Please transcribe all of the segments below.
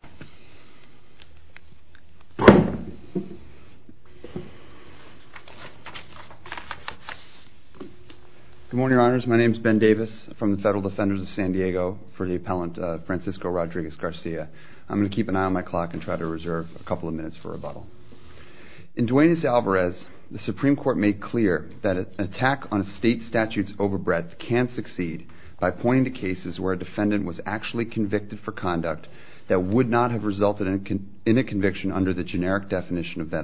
I'm going to keep an eye on my clock and try to reserve a couple of minutes for rebuttal. In Duenes-Alvarez, the Supreme Court made clear that an attack on a state statute's overbreadth can succeed by pointing to cases where a defendant was actually convicted for conduct that would be considered an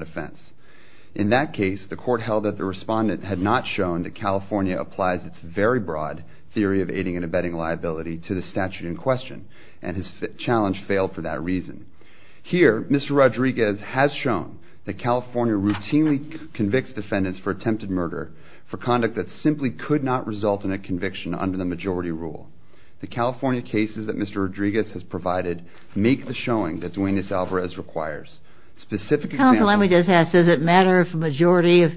offense. In that case, the court held that the respondent had not shown that California applies its very broad theory of aiding and abetting liability to the statute in question, and his challenge failed for that reason. Here, Mr. Rodriguez has shown that California routinely convicts defendants for attempted murder for conduct that simply could not result in a conviction under the majority rule. The California cases that Mr. Rodriguez has provided make the showing that Duenes-Alvarez requires. Specific examples... Counsel, let me just ask, does it matter if a majority of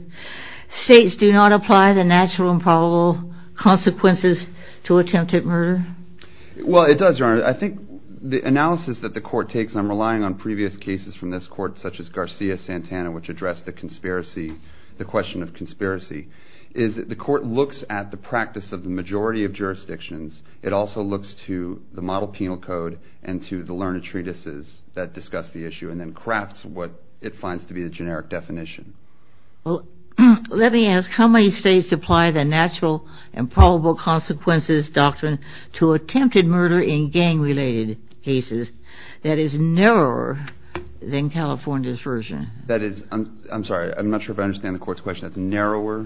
states do not apply the natural and probable consequences to attempted murder? Well, it does, Your Honor. I think the analysis that the court takes, and I'm relying on previous cases from this court, such as Garcia-Santana, which addressed the question of conspiracy, is that the court looks at the practice of the majority of jurisdictions. It also looks to the model penal code and to the learned treatises that discuss the issue and then crafts what it finds to be the generic definition. Well, let me ask, how many states apply the natural and probable consequences doctrine to attempted murder in gang-related cases that is narrower than California's version? I'm sorry, I'm not sure if I understand the court's question. That's narrower?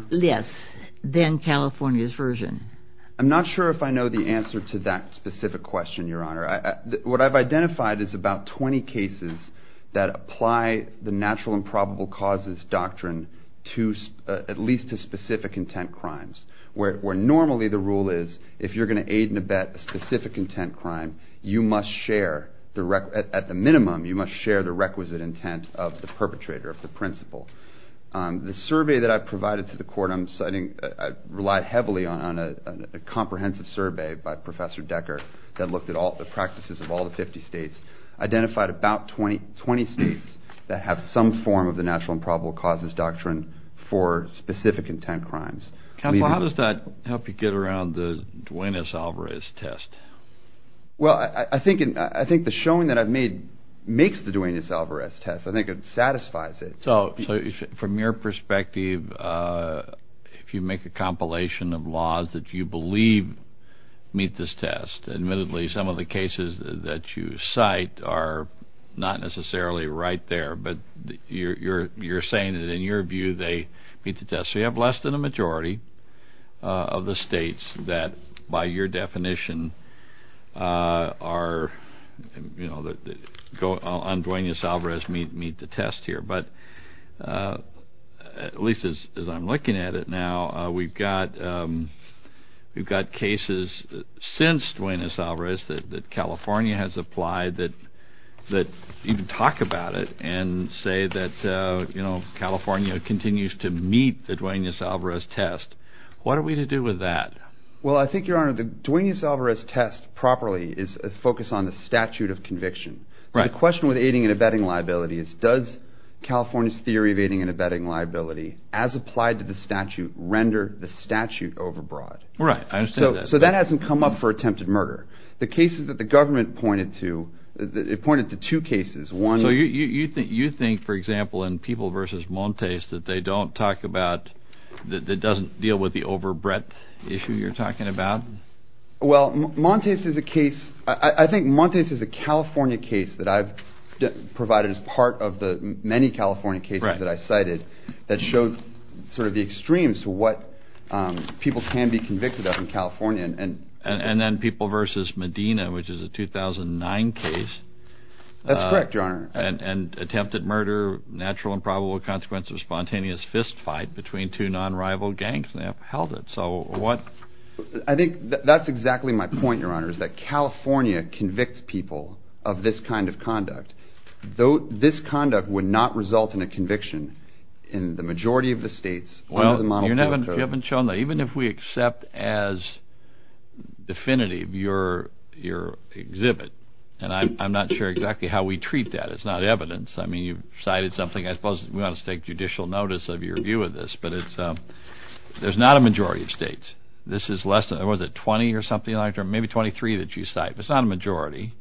I'm not sure if I know the answer to that specific question, Your Honor. What I've identified is about 20 cases that apply the natural and probable causes doctrine at least to specific intent crimes, where normally the rule is, if you're going to aid and abet a specific intent crime, you must share, at the minimum, you must share the requisite intent of the perpetrator, of the principal. The survey that I provided to the court I'm citing, I relied heavily on a comprehensive survey by Professor Decker that looked at all the practices of all the 50 states, identified about 20 states that have some form of the natural and probable causes doctrine for specific intent crimes. Counsel, how does that help you get around the Duane S. Alvarez test? Well, I think the showing that I've made makes the Duane S. Alvarez test. I think it satisfies it. So from your perspective, if you make a compilation of laws that you believe meet this test, admittedly some of the cases that you cite are not necessarily right there, but you're saying that in your view they meet the test. So you have less than a majority of the states that, by your definition, on Duane S. Alvarez meet the test here. But at least as I'm looking at it now, we've got cases since Duane S. Alvarez that California has applied that even talk about it and say that California continues to meet the Duane S. Alvarez test. What are we to do with that? Well, I think, Your Honor, the Duane S. Alvarez test properly is a focus on the statute of conviction. So the question with aiding and abetting liability is does California's theory of aiding and abetting liability, as applied to the statute, render the statute overbroad? Right. I understand that. So that hasn't come up for attempted murder. The cases that the government pointed to, it pointed to two cases. So you think, for example, in People v. Montes that they don't talk about, that it doesn't deal with the overbreadth issue you're talking about? Well, Montes is a case, I think Montes is a California case that I've provided as part of the many California cases that I cited that showed sort of the extremes to what people can be convicted of in California. And then People v. Medina, which is a 2009 case. That's correct, Your Honor. And attempted murder, natural and probable consequence of a spontaneous fist fight between two non-rival gangs, and they upheld it. So what... I think that's exactly my point, Your Honor, is that California convicts people of this kind of conduct. This conduct would not result in a conviction in the majority of the states under the monopoly code. You haven't shown that. Even if we accept as definitive your exhibit, and I'm not sure exactly how we treat that, it's not evidence. I mean, you've cited something, I suppose we ought to take judicial notice of your view of this, but there's not a majority of states. This is less than, what is it, 20 or something like that, maybe 23 that you cite, but it's not a majority.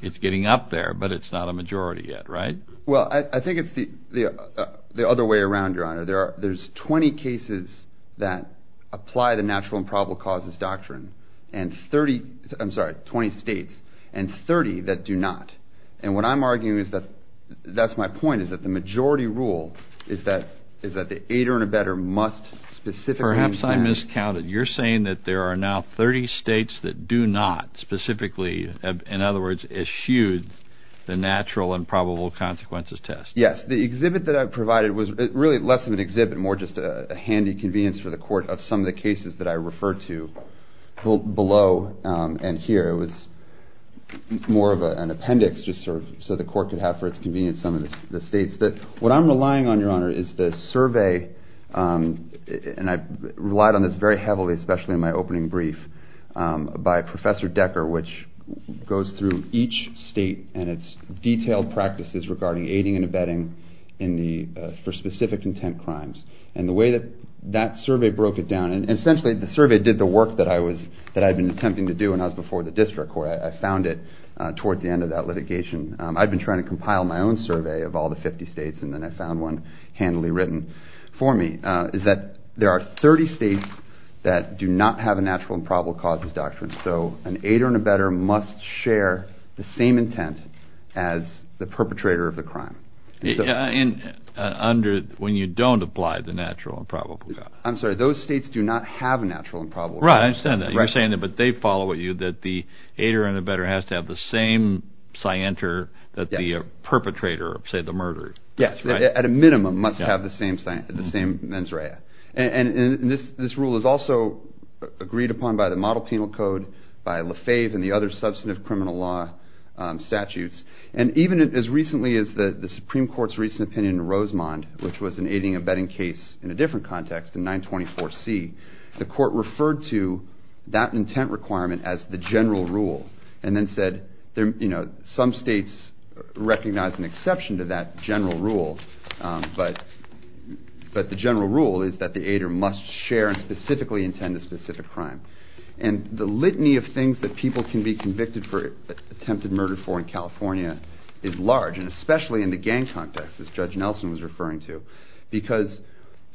It's getting up there, but it's not a majority yet, right? Well, I think it's the other way around, Your Honor. There's 20 cases that apply the natural and probable causes doctrine, and 30, I'm sorry, 20 states, and 30 that do not. And what I'm arguing is that, that's my point, is that the majority rule is that the aider and abetter must specifically... Perhaps I miscounted. You're saying that there are now 30 states that do not specifically, in other words, eschewed the natural and probable consequences test. Yes. The exhibit that I provided was really less of an exhibit, more just a handy convenience for the court of some of the cases that I referred to below and here. It was more of an appendix just so the court could have for its convenience some of the states. What I'm relying on, Your Honor, is the survey, and I relied on this very heavily, especially in my opening brief, by Professor Decker, which goes through each state and its detailed practices regarding aiding and abetting for specific intent crimes. And the way that that survey broke it down, and essentially the survey did the work that I had been attempting to do when I was before the district court. I found it toward the end of that litigation. I'd been trying to compile my own survey of all the 50 states, and then I found one handily written for me, is that there are 30 states that do not have a natural and probable causes doctrine. So an aider and abetter must share the same intent as the perpetrator of the crime. When you don't apply the natural and probable causes. I'm sorry. Those states do not have a natural and probable causes. You're saying that, but they follow you, that the aider and abetter has to have the same scienter that the perpetrator of, say, the murder. Yes, at a minimum, must have the same mens rea. And this rule is also agreed upon by the Model Penal Code, by Lefebvre, and the other substantive criminal law statutes. And even as recently as the Supreme Court's recent opinion in Rosemond, which was an aiding and abetting case in a different context, in 924C, the court referred to that intent requirement as the general rule, and then said some states recognize an exception to that general rule, but the general rule is that the aider must share and specifically intend a specific crime. And the litany of things that people can be convicted for attempted murder for in California is large, and especially in the gang context, as Judge Nelson was referring to.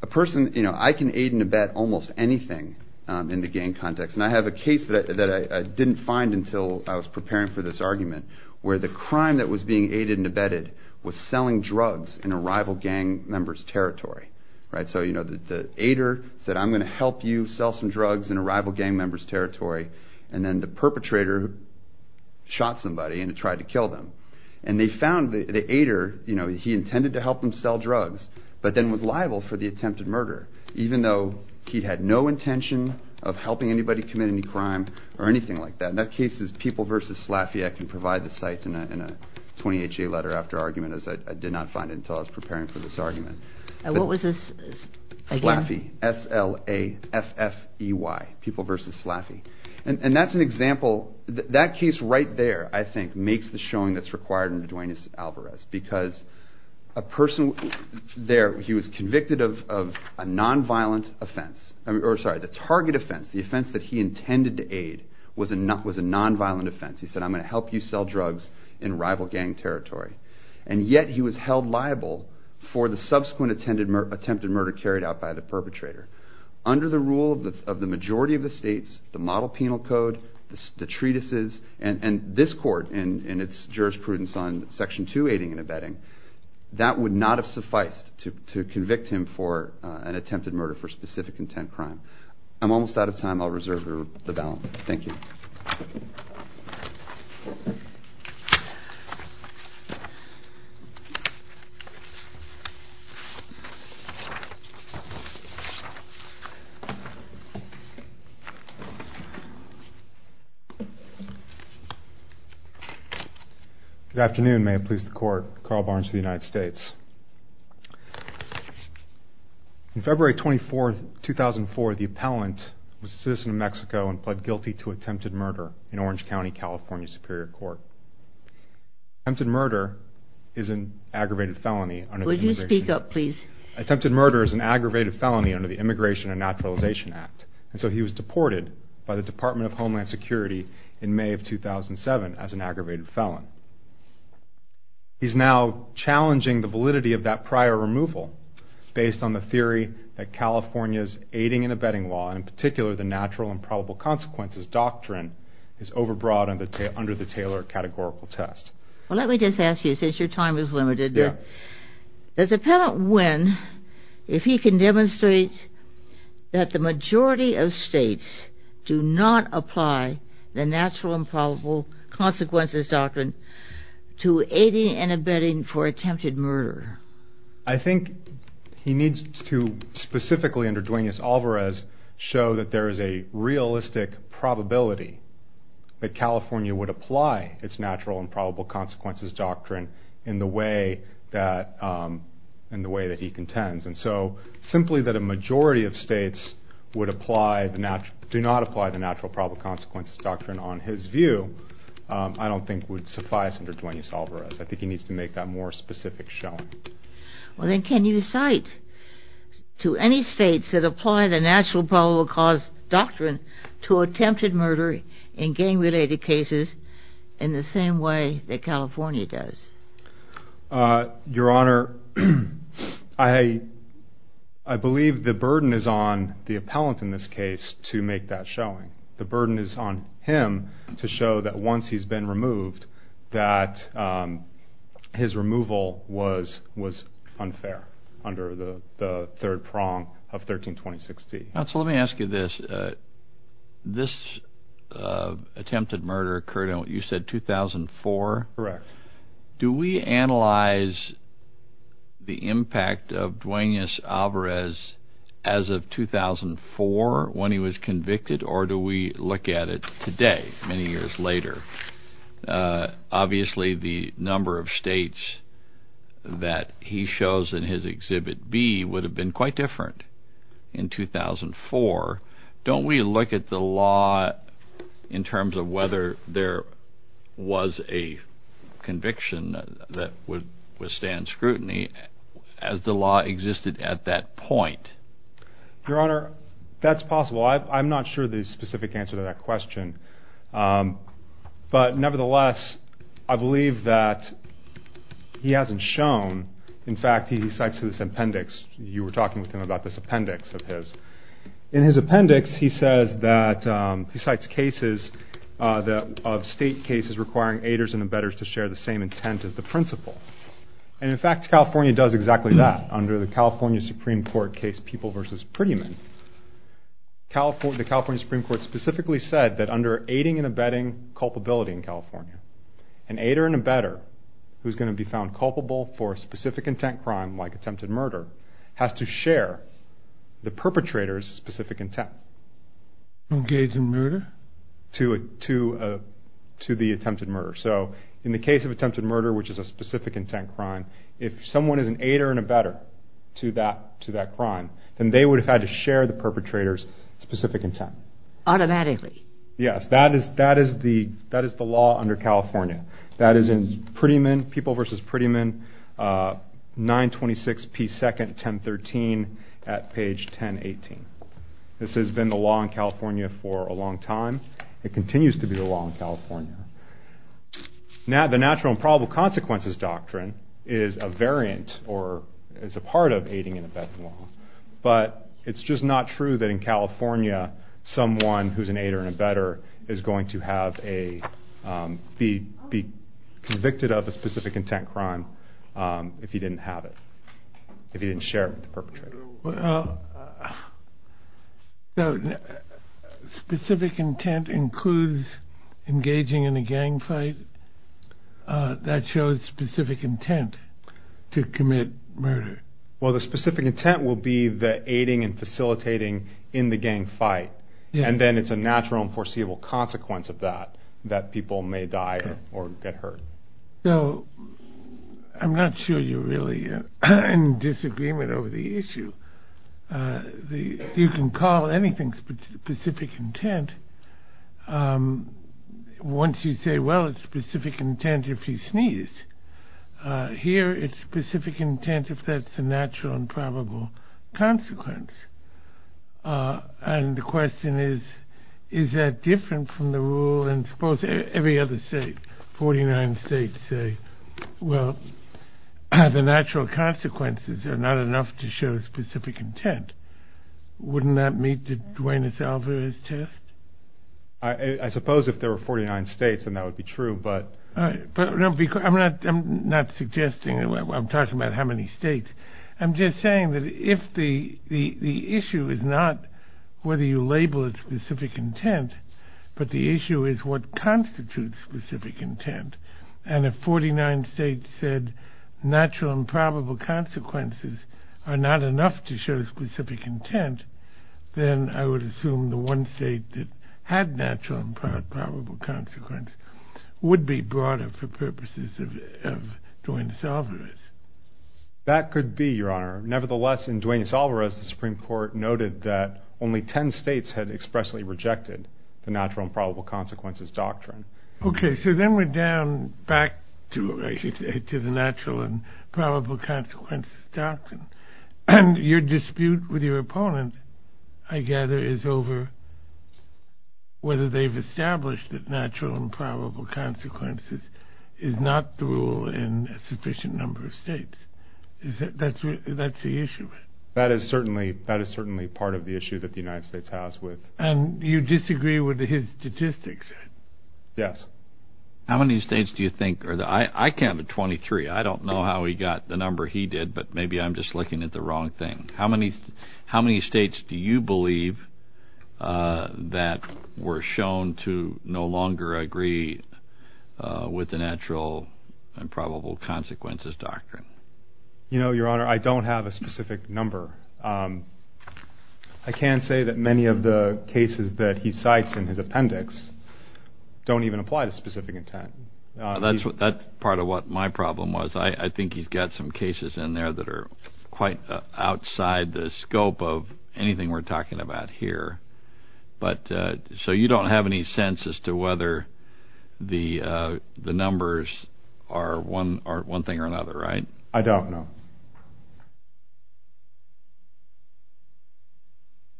I can aid and abet almost anything in the gang context, and I have a case that I didn't find until I was preparing for this argument, where the crime that was being aided and abetted was selling drugs in a rival gang member's territory. So the aider said, I'm going to help you sell some drugs in a rival gang member's territory, and then the perpetrator shot somebody and tried to kill them. And they found the aider, he intended to help them sell drugs, but then was liable for the attempted murder, even though he had no intention of helping anybody commit any crime or anything like that. And that case is People v. Slaffey. I can provide the site in a 20HA letter after argument, as I did not find it until I was preparing for this argument. And what was this again? Slaffey, S-L-A-F-F-E-Y, People v. Slaffey. And that's an example, that case right there, I think, makes the showing that's required under Duaneus Alvarez. Because a person there, he was convicted of a non-violent offense, or sorry, the target offense, the offense that he intended to aid was a non-violent offense. He said, I'm going to help you sell drugs in rival gang territory. And yet he was held liable for the subsequent attempted murder carried out by the perpetrator. Under the rule of the majority of the states, the model penal code, the treatises, and this court and its jurisprudence on Section 2 aiding and abetting, that would not have sufficed to convict him for an attempted murder for specific intent crime. I'm almost out of time. I'll reserve the balance. Thank you. Good afternoon. May it please the Court. Carl Barnes for the United States. On February 24, 2004, the appellant was a citizen of Mexico and pled guilty to attempted murder in Orange County, California, Superior Court. Attempted murder is an aggravated felony under the immigration law. Would you speak up, please? Attempted murder is an aggravated felony under the Immigration and Naturalization Act. And so he was deported by the Department of Homeland Security in May of 2007 as an aggravated felon. He's now challenging the validity of that prior removal based on the theory that California's aiding and abetting law, in particular the natural and probable consequences doctrine, is overbroad under the Taylor categorical test. Well, let me just ask you, since your time is limited, does the appellant win if he can demonstrate that the majority of states do not apply the natural and probable consequences doctrine to aiding and abetting for attempted murder? I think he needs to specifically, under Duenas-Alvarez, show that there is a realistic probability that California would apply its natural and probable consequences doctrine in the way that he contends. And so simply that a majority of states do not apply the natural and probable consequences doctrine, on his view, I don't think would suffice under Duenas-Alvarez. I think he needs to make that more specific showing. Well, then can you cite to any states that apply the natural and probable consequences doctrine to attempted murder in gang-related cases in the same way that California does? Your Honor, I believe the burden is on the appellant in this case to make that showing. The burden is on him to show that once he's been removed, that his removal was unfair under the third prong of 1326D. Now, so let me ask you this. This attempted murder occurred in, you said, 2004? Correct. Do we analyze the impact of Duenas-Alvarez as of 2004 when he was convicted? Or do we look at it today, many years later? Obviously the number of states that he shows in his Exhibit B would have been quite different in 2004. Don't we look at the law in terms of whether there was a conviction that would withstand scrutiny as the law existed at that point? Your Honor, that's possible. I'm not sure the specific answer to that question. But nevertheless, I believe that he hasn't shown. In fact, he cites this appendix. You were talking with him about this appendix of his. In his appendix, he says that he cites cases of state cases requiring aiders and embedders to share the same intent as the principal. And in fact, California does exactly that under the California Supreme Court case People v. Prettyman. The California Supreme Court specifically said that under aiding and embedding culpability in California, an aider and embedder who's going to be found culpable for a specific intent crime like attempted murder has to share the perpetrator's specific intent. Engage in murder? To the attempted murder. So in the case of attempted murder, which is a specific intent crime, if someone is an aider and embedder to that crime, then they would have had to share the perpetrator's specific intent. Automatically? Yes, that is the law under California. That is in People v. Prettyman, 926 P. 2nd, 1013 at page 1018. This has been the law in California for a long time. It continues to be the law in California. The natural and probable consequences doctrine is a variant or is a part of aiding and embedding law. But it's just not true that in California someone who's an aider and embedder is going to be convicted of a specific intent crime if he didn't have it, if he didn't share it with the perpetrator. So specific intent includes engaging in a gang fight? That shows specific intent to commit murder? Well, the specific intent will be the aiding and facilitating in the gang fight, and then it's a natural and foreseeable consequence of that, that people may die or get hurt. So I'm not sure you're really in disagreement over the issue. You can call anything specific intent once you say, well, it's specific intent if he sneezed. Here it's specific intent if that's a natural and probable consequence. And the question is, is that different from the rule? Well, and suppose every other state, 49 states say, well, the natural consequences are not enough to show specific intent. Wouldn't that meet the Duenas-Alvarez test? I suppose if there were 49 states, then that would be true, but... I'm not suggesting, I'm talking about how many states. I'm just saying that if the issue is not whether you label it specific intent, but the issue is what constitutes specific intent, and if 49 states said natural and probable consequences are not enough to show specific intent, then I would assume the one state that had natural and probable consequence would be broader for purposes of Duenas-Alvarez. That could be, Your Honor. Nevertheless, in Duenas-Alvarez, the Supreme Court noted that only 10 states had expressly rejected the natural and probable consequences doctrine. Okay, so then we're down back to the natural and probable consequences doctrine. And your dispute with your opponent, I gather, is over whether they've established that natural and probable consequences is not the rule in a sufficient number of states. Is that the issue? That is certainly part of the issue that the United States has with... And you disagree with his statistics? Yes. How many states do you think are the... I counted 23. I don't know how he got the number he did, but maybe I'm just looking at the wrong thing. How many states do you believe that were shown to no longer agree with the natural and probable consequences doctrine? You know, Your Honor, I don't have a specific number. I can't say that many of the cases that he cites in his appendix don't even apply to specific intent. That's part of what my problem was. I think he's got some cases in there that are quite outside the scope of anything we're talking about here. So you don't have any sense as to whether the numbers are one thing or another, right? I don't know.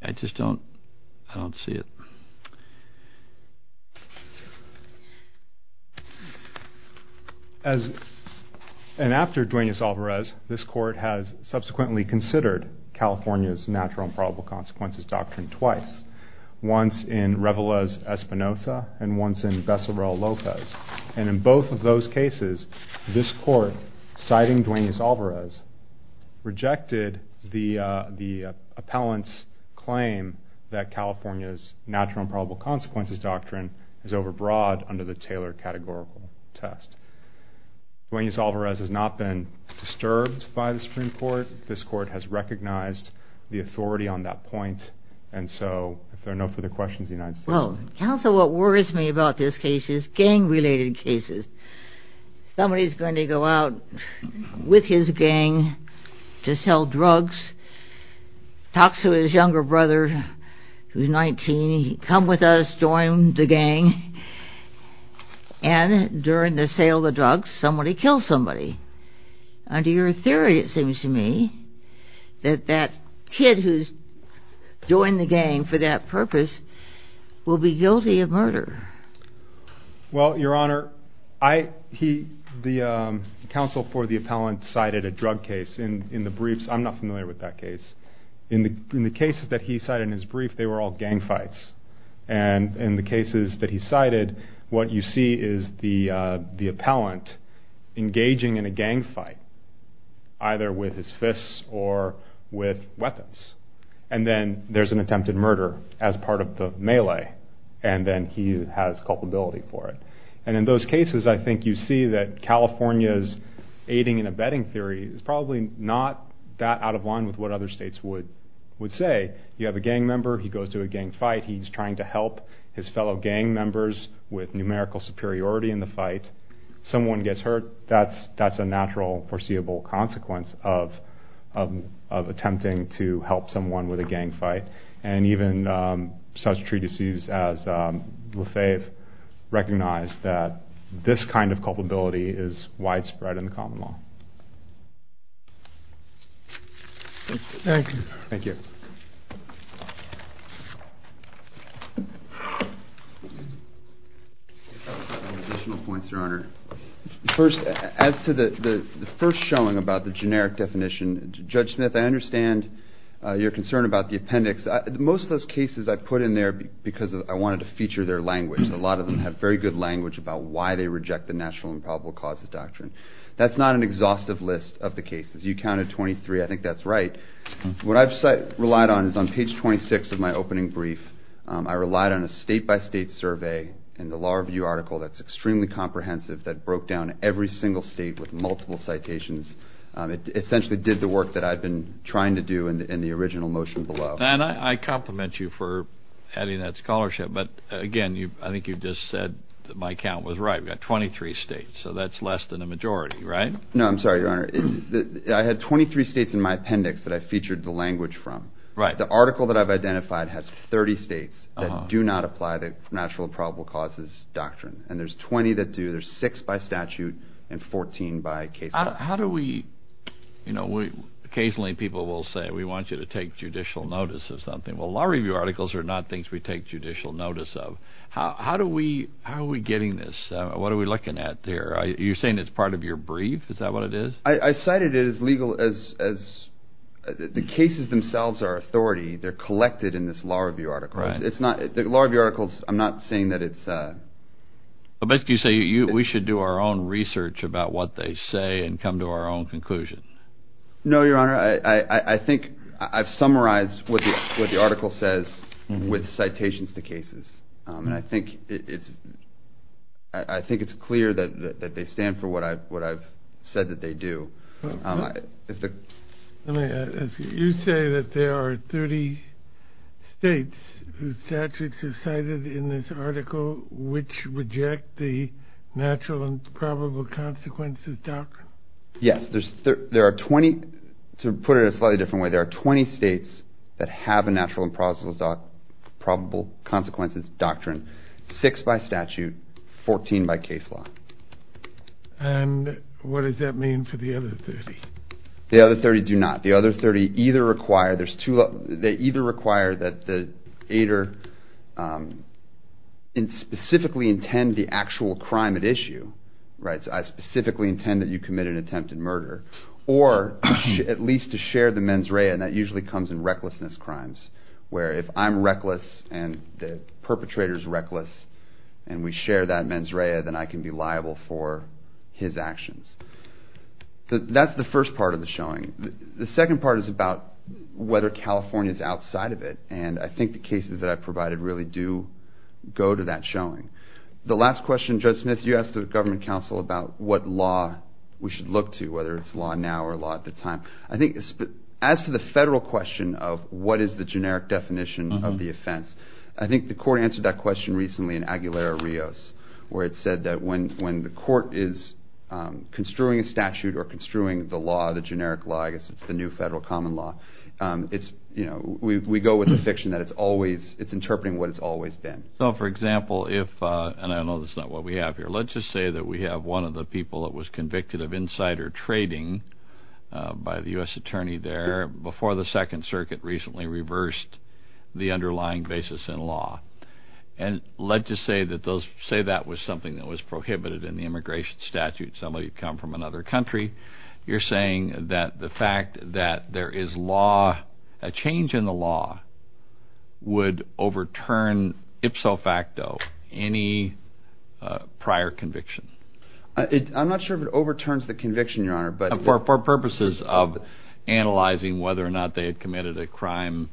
I just don't see it. And after Duenas-Alvarez, this court has subsequently considered California's natural and probable consequences doctrine twice. Once in Revelez-Espinosa and once in Bessaro-Lopez. And in both of those cases, this court, citing Duenas-Alvarez, rejected the appellant's claim that California's natural and probable consequences doctrine is overbroad under the Taylor categorical test. Duenas-Alvarez has not been disturbed by the Supreme Court. This court has recognized the authority on that point. And so if there are no further questions, the United States... Well, counsel, what worries me about this case is gang-related cases. Somebody's going to go out with his gang to sell drugs, talks to his younger brother who's 19, come with us, join the gang, and during the sale of the drugs, somebody kills somebody. Under your theory, it seems to me, that that kid who's joined the gang for that purpose will be guilty of murder. Well, Your Honor, the counsel for the appellant cited a drug case. In the briefs, I'm not familiar with that case. In the cases that he cited in his brief, they were all gang fights. And in the cases that he cited, what you see is the appellant engaging in a gang fight, either with his fists or with weapons. And then there's an attempted murder as part of the melee. And then he has culpability for it. And in those cases, I think you see that California's aiding and abetting theory is probably not that out of line with what other states would say. You have a gang member, he goes to a gang fight, he's trying to help his fellow gang members with numerical superiority in the fight. Someone gets hurt, that's a natural, foreseeable consequence of attempting to help someone with a gang fight. And even such treatises as Lefebvre recognize that this kind of culpability is widespread in the common law. Thank you. Thank you. Additional points, Your Honor. First, as to the first showing about the generic definition, Judge Smith, I understand your concern about the appendix. Most of those cases I put in there because I wanted to feature their language. A lot of them have very good language about why they reject the National Improbable Causes Doctrine. That's not an exhaustive list of the cases. You counted 23. I think that's right. What I've relied on is on page 26 of my opening brief, I relied on a state-by-state survey in the Law Review article that's extremely comprehensive that broke down every single state with multiple citations. It essentially did the work that I'd been trying to do in the original motion below. And I compliment you for having that scholarship, but again, I think you've just said that my count was right. We've got 23 states, so that's less than the majority, right? No, I'm sorry, Your Honor. I had 23 states in my appendix that I featured the language from. The article that I've identified has 30 states that do not apply the National Improbable Causes Doctrine, and there's 20 that do. There's six by statute and 14 by case law. How do we, you know, occasionally people will say, we want you to take judicial notice of something. Well, Law Review articles are not things we take judicial notice of. How are we getting this? What are we looking at there? Are you saying it's part of your brief? Is that what it is? I cited it as legal as the cases themselves are authority. They're collected in this Law Review article. Law Review articles, I'm not saying that it's... But you say we should do our own research about what they say and come to our own conclusion. No, Your Honor. I think I've summarized what the article says with citations to cases, and I think it's clear that they stand for what I've said that they do. You say that there are 30 states whose statutes are cited in this article which reject the natural and probable consequences doctrine? Yes. There are 20, to put it a slightly different way, there are 20 states that have a natural and probable consequences doctrine. Six by statute, 14 by case law. And what does that mean for the other 30? The other 30 do not. The other 30 either require that the aider specifically intend the actual crime at issue, so I specifically intend that you commit an attempted murder, or at least to share the mens rea, and that usually comes in recklessness crimes, where if I'm reckless and the perpetrator's reckless and we share that mens rea, then I can be liable for his actions. That's the first part of the showing. The second part is about whether California's outside of it, and I think the cases that I've provided really do go to that showing. The last question, Judge Smith, you asked the government counsel about what law we should look to, whether it's law now or law at the time. I think as to the federal question of what is the generic definition of the offense, I think the court answered that question recently in Aguilera-Rios, where it said that when the court is construing a statute or construing the law, the generic law, I guess it's the new federal common law, we go with the fiction that it's interpreting what it's always been. So, for example, if, and I know that's not what we have here, let's just say that we have one of the people that was convicted of insider trading by the U.S. attorney there before the Second Circuit recently reversed the underlying basis in law, and let's just say that was something that was prohibited in the immigration statute. Somebody had come from another country. You're saying that the fact that there is law, a change in the law, would overturn ipso facto any prior conviction. I'm not sure if it overturns the conviction, Your Honor. For purposes of analyzing whether or not they had committed a crime,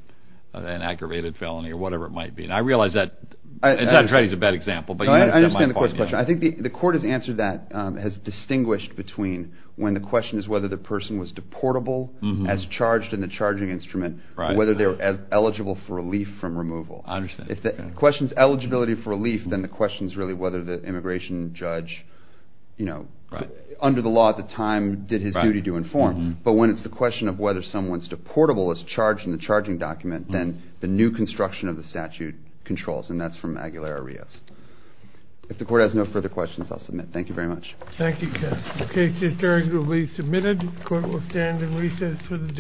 an aggravated felony, or whatever it might be. I realize that insider trading is a bad example. I understand the court's question. I think the court has answered that, has distinguished between when the question is whether the person was deportable as charged in the charging instrument, whether they were eligible for relief from removal. If the question is eligibility for relief, then the question is really whether the immigration judge, under the law at the time, did his duty to inform. But when it's the question of whether someone's deportable as charged in the charging document, then the new construction of the statute controls, and that's from Aguilera-Rios. If the court has no further questions, I'll submit. Thank you very much. Thank you, Ken. The case is during to be submitted. The court will stand in recess for the day.